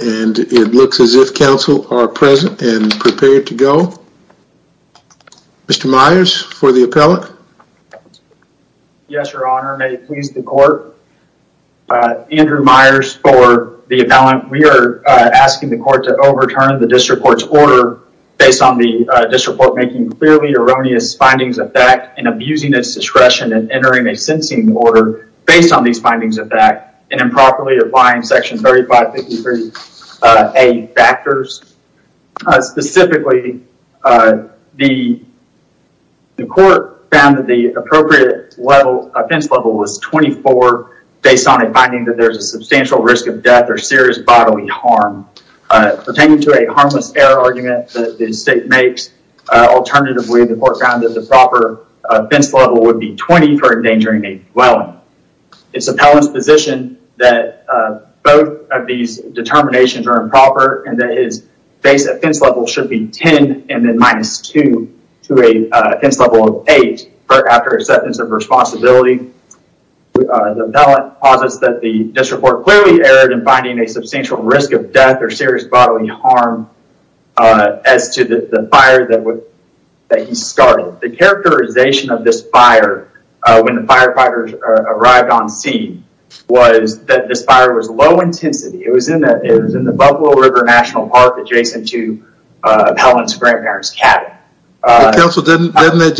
and it looks as if counsel are present and prepared to go. Mr. Myers for the appellate. Yes, your honor. May it please the court. Andrew Myers for the appellant. We are asking the court to overturn the district court's order based on the district court making clearly erroneous findings of fact and abusing its improperly applying section 3553A factors. Specifically, the court found that the appropriate level offense level was 24 based on a finding that there's a substantial risk of death or serious bodily harm pertaining to a harmless error argument that the state makes. Alternatively, the court found that the proper offense level would be 20 for endangering a dwelling. Its appellant's position that both of these determinations are improper and that his base offense level should be 10 and then minus 2 to a offense level of 8 after acceptance of responsibility. The appellant posits that the district court clearly erred in finding a substantial risk of death or serious bodily harm as to the fire that he started. The characterization of this fire when the was that this fire was low intensity. It was in the Buffalo River National Park adjacent to appellant's grandparents cabin. Counsel, doesn't that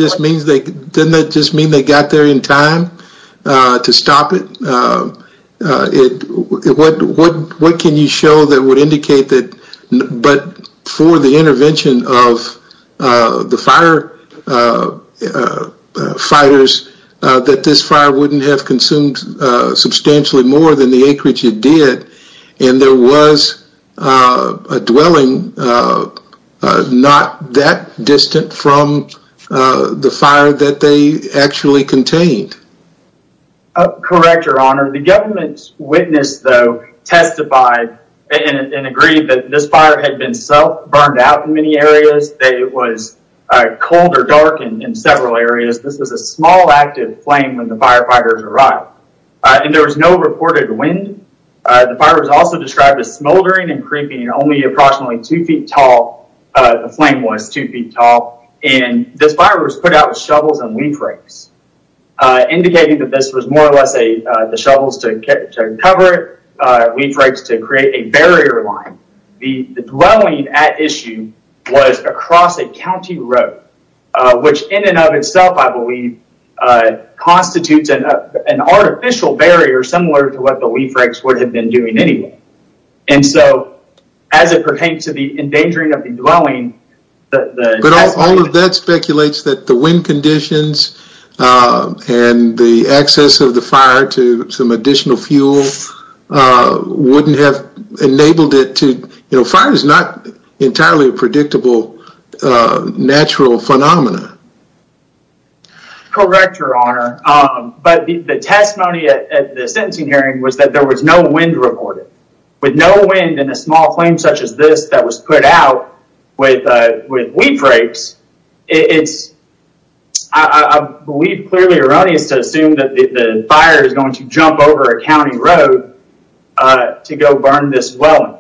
just mean they got there in time to stop it? What can you show that would indicate that but for the intervention of the firefighters that this fire wouldn't have consumed substantially more than the acreage it did and there was a dwelling not that distant from the fire that they actually contained? Correct, your honor. The government's witness though testified and agreed that this fire had been self burned out in many areas. It was cold or flame when the firefighters arrived and there was no reported wind. The fire was also described as smoldering and creeping and only approximately two feet tall. The flame was two feet tall and this fire was put out with shovels and leaf rakes indicating that this was more or less a the shovels to cover it, leaf rakes to create a barrier line. The dwelling at issue was across a county road which in and of itself I believe constitutes an artificial barrier similar to what the leaf rakes would have been doing anyway and so as it pertains to the endangering of the dwelling... But all of that speculates that the wind conditions and the access of the fire to some additional fuel wouldn't have enabled it to, you know, fire is not entirely predictable natural phenomena. Correct, your honor, but the testimony at the sentencing hearing was that there was no wind reported. With no wind and a small flame such as this that was put out with with leaf rakes, it's I believe clearly erroneous to assume that the fire is going to jump over a county road to go burn this dwelling.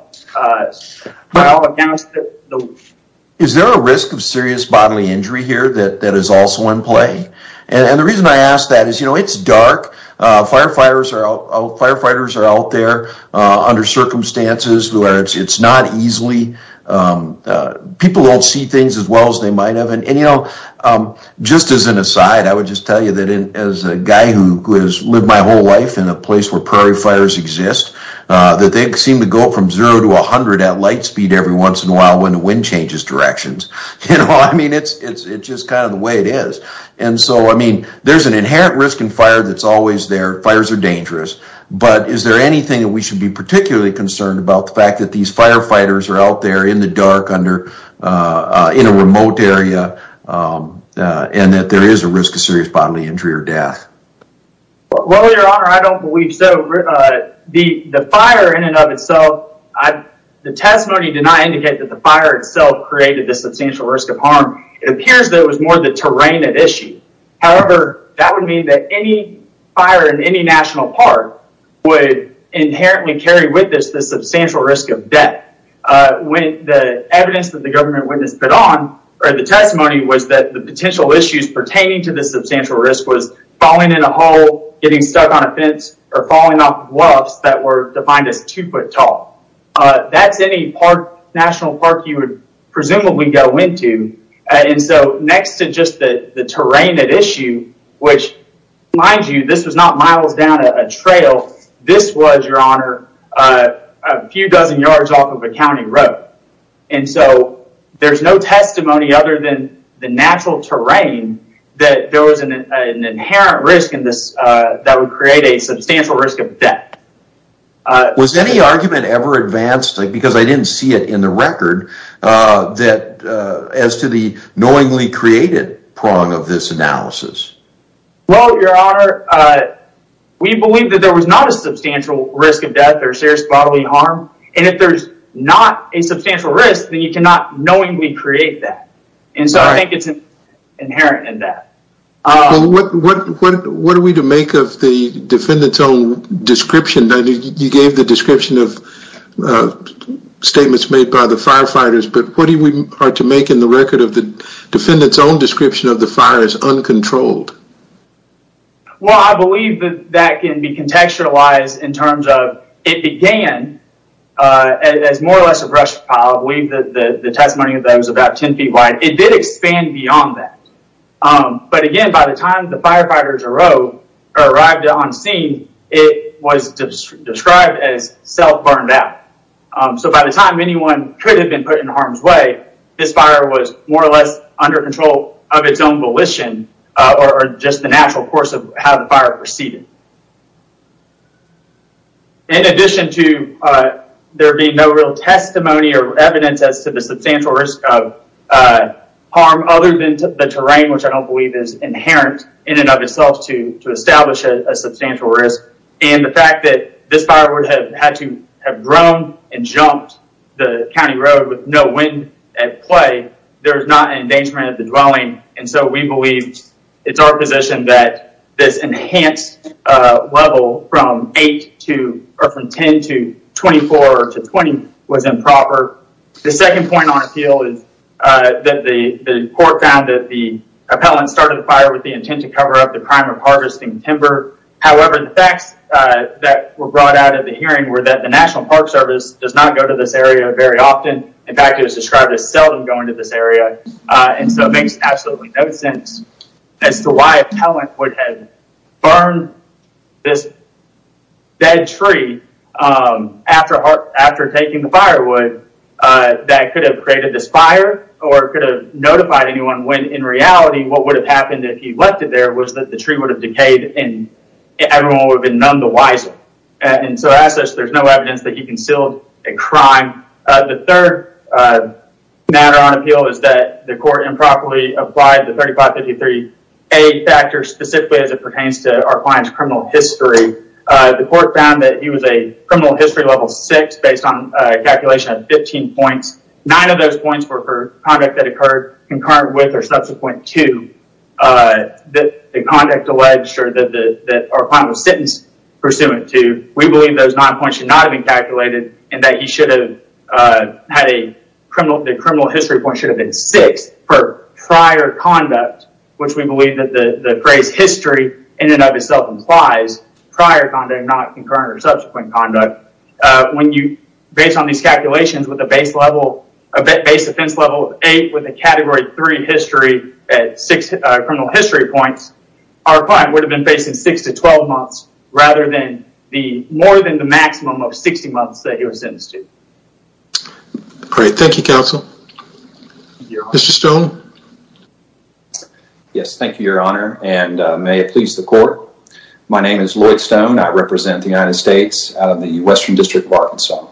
Is there a risk of serious bodily injury here that that is also in play? And the reason I ask that is you know it's dark, firefighters are out there under circumstances where it's not easily, people don't see things as well as they might have and you know just as an aside I would just tell you that as a guy who has lived my whole life in a place where prairie fires exist, that they seem to go from zero to a hundred at light speed every once in a while when the wind changes directions. You know I mean it's it's just kind of the way it is and so I mean there's an inherent risk in fire that's always there, fires are dangerous, but is there anything that we should be particularly concerned about the fact that these firefighters are out there in the dark under in a Well your honor, I don't believe so. The fire in and of itself, the testimony did not indicate that the fire itself created the substantial risk of harm. It appears that it was more the terrain at issue. However, that would mean that any fire in any national park would inherently carry with this the substantial risk of death. When the evidence that the government witnessed put on or the testimony was that the potential issues pertaining to the hole getting stuck on a fence or falling off bluffs that were defined as two foot tall, that's any park national park you would presumably go into and so next to just the the terrain at issue, which mind you this was not miles down a trail, this was your honor a few dozen yards off of a county road and so there's no testimony other than the natural terrain that there was an that would create a substantial risk of death. Was any argument ever advanced because I didn't see it in the record that as to the knowingly created prong of this analysis? Well your honor, we believe that there was not a substantial risk of death or serious bodily harm and if there's not a substantial risk then you cannot knowingly create that and so I think it's inherent in that. What are we to make of the defendant's own description that you gave the description of statements made by the firefighters but what do we are to make in the record of the defendant's own description of the fire as uncontrolled? Well I believe that that can be contextualized in terms of it began as more or less a brush pile. I believe that the testimony of that was about ten feet wide. It did expand beyond that but again by the time the firefighters arrived on scene it was described as self burned out so by the time anyone could have been put in harm's way this fire was more or less under control of its own volition or just the natural course of how the fire proceeded. In addition to there being no real testimony or evidence as to the substantial risk of harm other than the terrain which I don't believe is inherent in and of itself to to establish a substantial risk and the fact that this fire would have had to have grown and jumped the county road with no wind at play there's not an endangerment of the dwelling and so we believe it's our position that this enhanced level from 8 to or from 10 to 24 to 20 was improper. The second point on appeal is that the court found that the appellant started the fire with the intent to cover up the crime of harvesting timber however the facts that were brought out of the hearing were that the National Park Service does not go to this area very often in fact it was described as seldom going to this burn this dead tree after taking the firewood that could have created this fire or could have notified anyone when in reality what would have happened if he left it there was that the tree would have decayed and everyone would have been numbed the wiser and so as such there's no evidence that he concealed a crime. The third matter on appeal is that the court improperly a factor specifically as it pertains to our client's criminal history the court found that he was a criminal history level six based on a calculation of 15 points. Nine of those points were for conduct that occurred concurrent with or subsequent to the conduct alleged or that our client was sentenced pursuant to. We believe those nine points should not have been calculated and that he should have had a criminal the criminal history point should have been six per prior conduct which we believe that the phrase history in and of itself implies prior conduct not concurrent or subsequent conduct when you based on these calculations with a base level a base offense level of eight with a category three history at six criminal history points our client would have been facing six to twelve months rather than the more than the maximum of sixty months that he was sentenced to. Great thank you counsel. Mr. Stone. Yes thank you your honor and may it please the court my name is Lloyd Stone I represent the United States the Western District of Arkansas.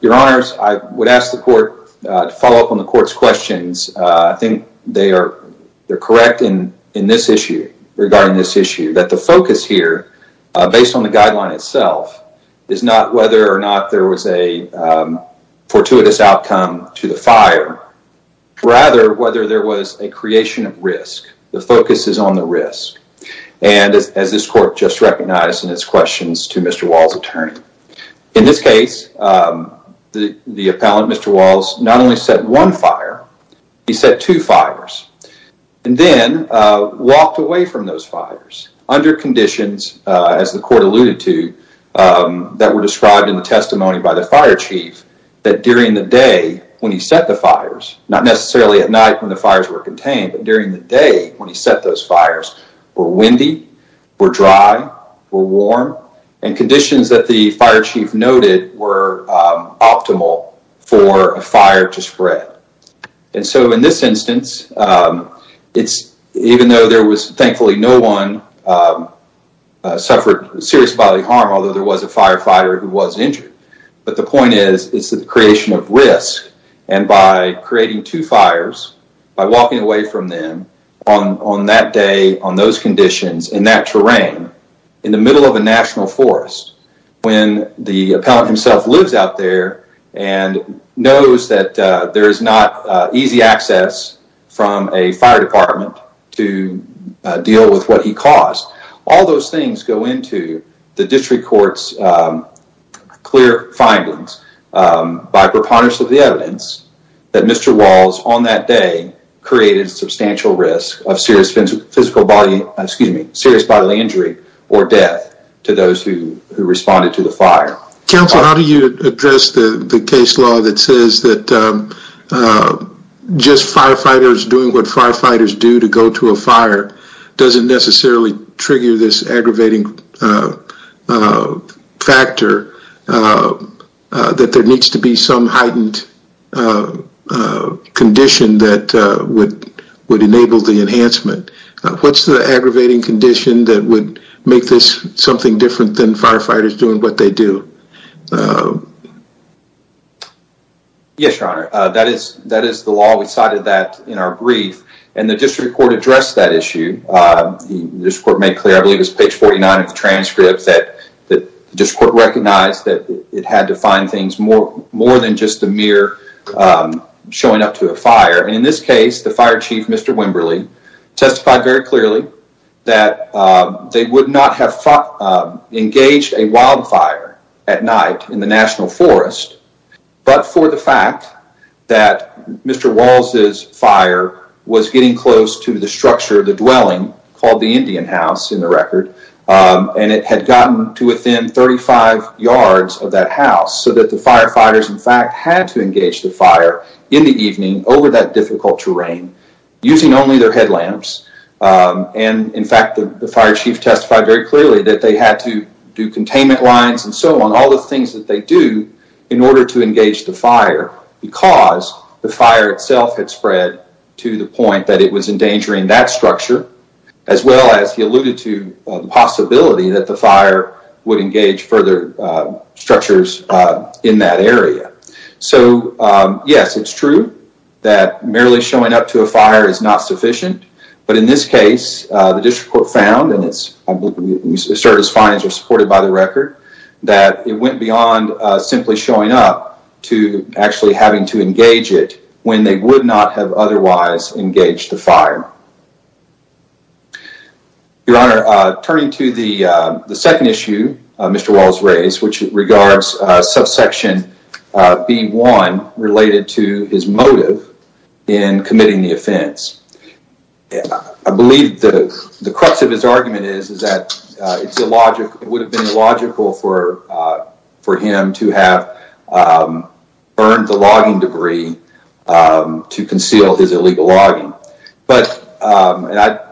Your honors I would ask the court to follow up on the court's questions I think they are they're correct in in this issue regarding this issue that the focus here based on the whether or not there was a fortuitous outcome to the fire rather whether there was a creation of risk the focus is on the risk and as this court just recognized in its questions to Mr. Wall's attorney in this case the the appellant Mr. Walls not only set one fire he set two fires and then walked away from those fires under conditions as the court alluded to that were described in the testimony by the fire chief that during the day when he set the fires not necessarily at night when the fires were contained during the day when he set those fires were windy were dry were warm and conditions that the fire chief noted were optimal for a fire to spread and so in this instance it's even though there was thankfully no one suffered serious bodily harm although there was a firefighter who was injured but the point is it's the creation of risk and by creating two fires by walking away from them on on that day on those conditions in that terrain in the middle of a national forest when the appellant himself lives out there and knows that there is not easy access from a fire department to deal with what he caused all those things go into the district courts clear findings by preponderance of the evidence that Mr. Walls on that day created substantial risk of serious physical body excuse me serious bodily injury or death to those who responded to the fire. Counsel how do you address the the case law that says that just firefighters doing what firefighters do to go to a fire doesn't necessarily trigger this aggravating factor that there needs to be some heightened condition that would would enable the enhancement. What's the aggravating condition that would make this something different than firefighters doing what they do? Yes your honor that is that is the law we cited that in our brief and the district court addressed that issue. The district court made clear I believe it's page 49 of the transcript that the district court recognized that it had to find things more more than just the mere showing up to a fire and in this case the fire chief Mr. Wimberly testified very clearly that they would not have engaged a wildfire at night in the national forest but for the fact that Mr. Walls's fire was getting close to the structure of the dwelling called the Indian house in the record and it had gotten to within 35 yards of that house so that the firefighters in fact had to engage the fire in the evening over that difficult terrain using only their headlamps and in fact the fire chief testified very clearly that they had to do containment lines and so on all the things that they do in order to engage the fire because the fire itself had spread to the point that it was endangering that structure as well as he alluded to the possibility that the fire would engage further structures in that area. So yes it's true that merely showing up to a fire is not sufficient but in this case the district court found and it started as findings were supported by the record that it went beyond simply showing up to actually having to engage it when they would not have otherwise engaged the fire. Your Honor, turning to the the second issue Mr. Walls raised which regards subsection B1 related to his motive in committing the offense. I believe the the crux of his argument is is that it's illogical it would have been illogical for for him to have burned the logging debris to conceal his illegal logging but I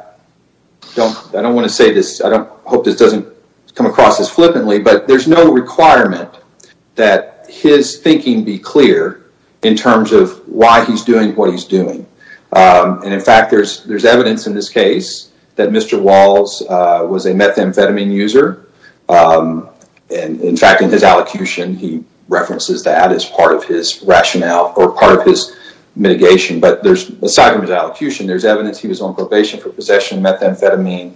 don't I don't want to say this I don't hope this doesn't come across as flippantly but there's no requirement that his thinking be clear in terms of why he's doing what he's doing and in fact there's there's evidence in this case that Mr. Walls was a methamphetamine user and in fact in his allocution he references that as part of his rationale or part of his mitigation but there's aside from his allocution there's evidence he was on probation for possession of methamphetamine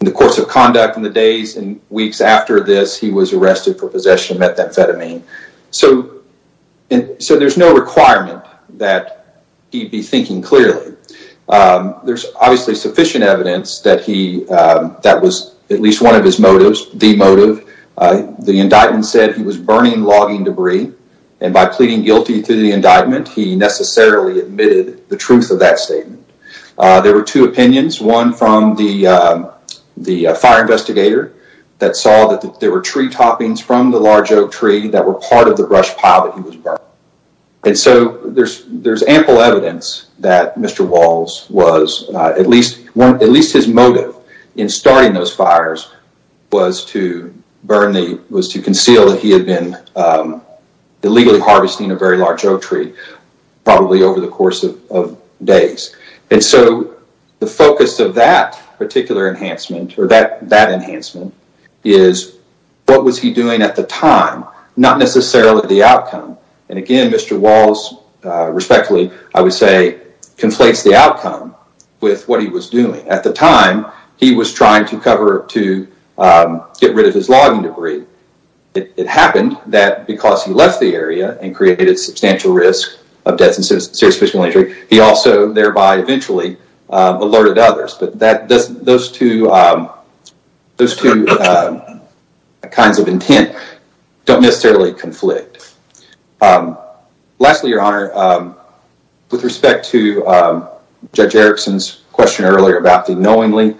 in the course of conduct in the days and weeks after this he was arrested for possession of methamphetamine so and so there's no requirement that he be thinking clearly there's obviously sufficient evidence that he that was at least one of his motives the motive the indictment said he was burning logging debris and by pleading guilty to the indictment he necessarily admitted the truth of that statement there were two opinions one from the the fire investigator that saw that there were tree toppings from the large oak tree that were part of the brush pile that he was burning and so there's there's ample evidence that Mr. Walls was at least one at least his motive in starting those fires was to burn the was to conceal that he had been illegally harvesting a very large oak tree probably over the course of days and so the focus of that particular enhancement or that that enhancement is what was he doing at the time not necessarily the outcome and again Mr. Walls respectfully I would say conflates the outcome with what he was doing at the time he was trying to cover up to get rid of his logging debris it happened that because he left the area and created substantial risk of death and serious physical injury he also thereby eventually alerted others but that doesn't those two those two kinds of intent don't necessarily conflict lastly your honor with respect to judge Erickson's question earlier about the knowingly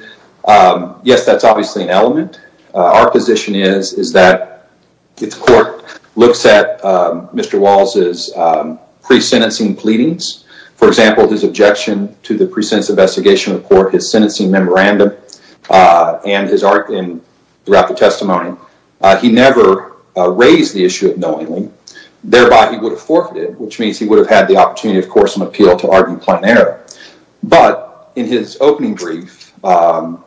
yes that's obviously an element our position is is that it's court looks at mr. Walls is pre sentencing pleadings for example his objection to the precincts investigation report his sentencing memorandum and his thereby he would have forfeited which means he would have had the opportunity of course and appeal to argue plain error but in his opening brief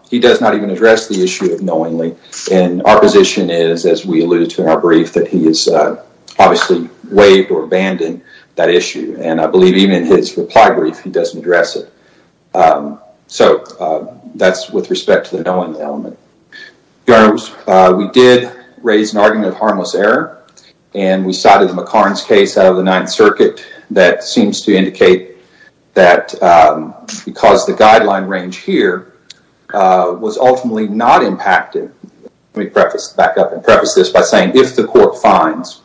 he does not even address the issue of knowingly and our position is as we alluded to in our brief that he is obviously waived or abandoned that issue and I believe even in his reply brief he doesn't address it so that's with respect to the knowing element. Your honor we did raise an argument of harmless error and we cited the McCarn's case out of the Ninth Circuit that seems to indicate that because the guideline range here was ultimately not impacted let me preface back up and preface this by saying if the court finds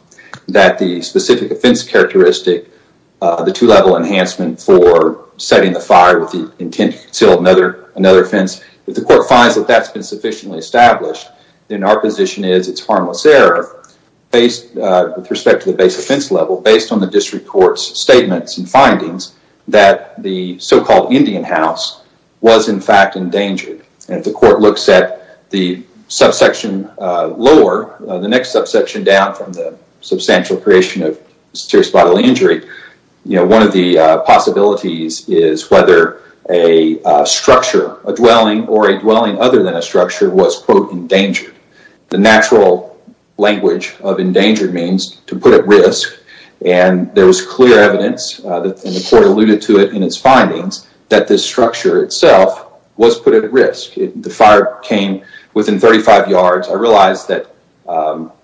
that the specific offense characteristic the two-level enhancement for setting the fire with the intent to another offense if the court finds that that's been sufficiently established in our position is it's harmless error based with respect to the base offense level based on the district courts statements and findings that the so called Indian house was in fact endangered and the court looks at the subsection lower the next subsection down from the substantial creation of structure a dwelling or a dwelling other than a structure was quote endangered. The natural language of endangered means to put at risk and there was clear evidence that the court alluded to it in its findings that this structure itself was put at risk. The fire came within 35 yards I realized that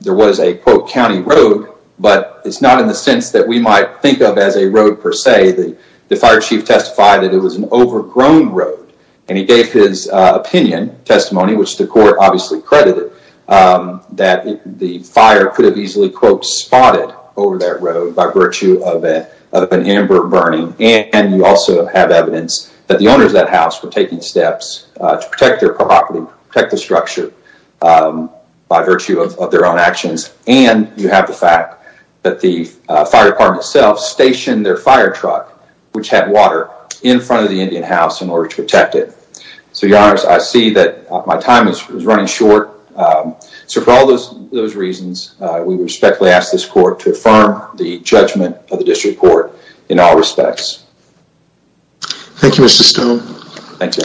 there was a quote county road but it's not in the sense that we might think of as a road per se the the fire chief testified that it was an overgrown road and he gave his opinion testimony which the court obviously credited that the fire could have easily quote spotted over that road by virtue of a of an amber burning and you also have evidence that the owners that house were taking steps to protect their property protect the structure by virtue of their own actions and you have the fact that the fire department itself stationed their fire truck which had water in front of the Indian house in order to protect it. So your honors I see that my time is running short so for all those those reasons we respectfully ask this court to affirm the judgment of the district court in all respects. Thank you Mr. Stone. Thank you.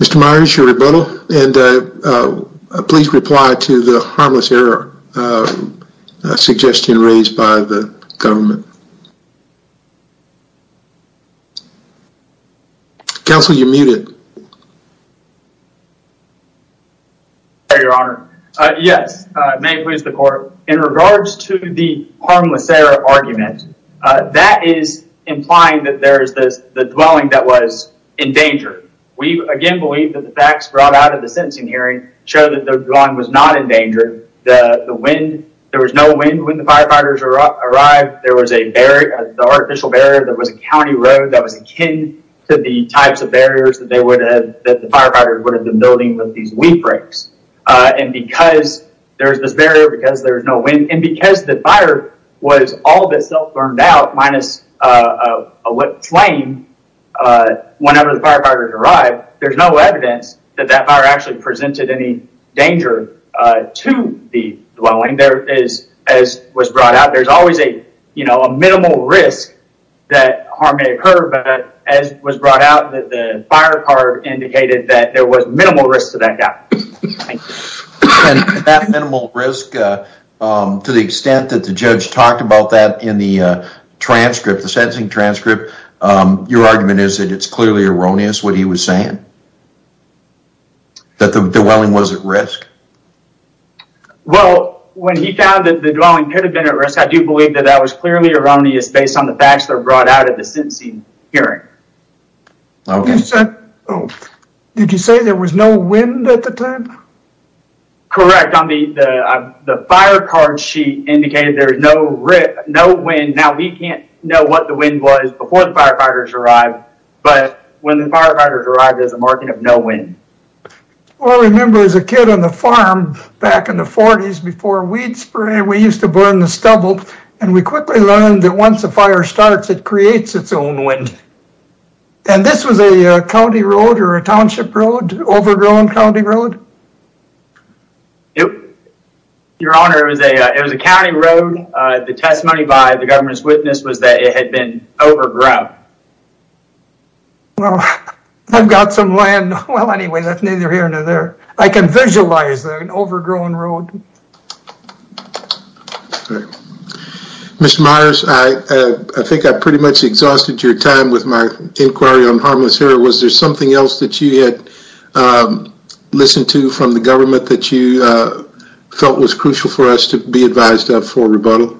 Mr. Myers your rebuttal and please reply to the harmless error suggestion raised by the fire department. Counselor you're muted. Your honor yes may it please the court in regards to the harmless error argument that is implying that there is this the dwelling that was in danger. We again believe that the facts brought out of the sentencing hearing show that the drawing was not in danger the the wind there was no wind when the firefighters arrived there was a barrier the artificial barrier that was a county road that was akin to the types of barriers that they would have that the firefighters would have been building with these wheat bricks and because there's this barrier because there's no wind and because the fire was all of itself burned out minus a lit flame whenever the firefighters arrived there's no evidence that that fire actually presented any danger to the there's always a you know a minimal risk that harm may occur but as was brought out that the fire card indicated that there was minimal risk to that guy. That minimal risk to the extent that the judge talked about that in the transcript the sentencing transcript your argument is that it's clearly erroneous what he was saying that the dwelling was at risk. Well when he found that the dwelling could have been at risk I do believe that that was clearly erroneous based on the facts that were brought out at the sentencing hearing. Did you say there was no wind at the time? Correct on the the fire card sheet indicated there's no rip no wind now we can't know what the wind was before the firefighters arrived but when the firefighters arrived there's a marking of no wind. I remember as a kid on the farm back in the 40s before we'd spray we used to burn the stubble and we quickly learned that once the fire starts it creates its own wind. And this was a county road or a township road overgrown County Road? Yep your honor it was a it was a county road the testimony by the government's witness was that it had been overgrown. Well I've got some land well anyway that's neither here nor there I can visualize an overgrown road. Mr. Myers I think I pretty much exhausted your time with my inquiry on harmless error was there something else that you had listened to from the government that you felt was crucial for us to be advised of for rebuttal?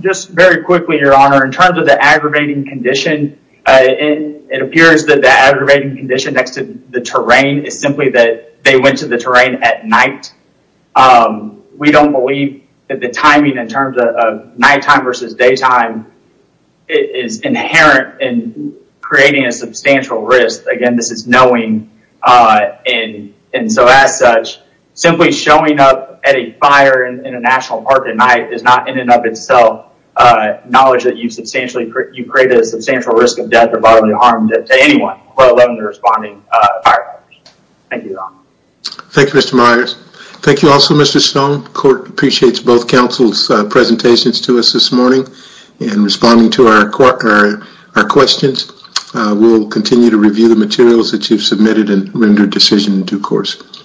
Just very quickly your honor in terms of the aggravating condition it appears that the aggravating condition next to the terrain is simply that they went to the terrain at night. We don't believe that the timing in terms of nighttime versus daytime is inherent in creating a substantial risk again this is knowing and and so as such simply showing up at a fire in a national park at night is not in and of itself knowledge that you substantially you created a substantial risk of death or bodily harm to anyone who responded. Thank you your honor. Thank you Mr. Myers. Thank you also Mr. Stone court appreciates both council's presentations to us this morning and responding to our questions we'll continue to review the materials that you've submitted and render decision in due course.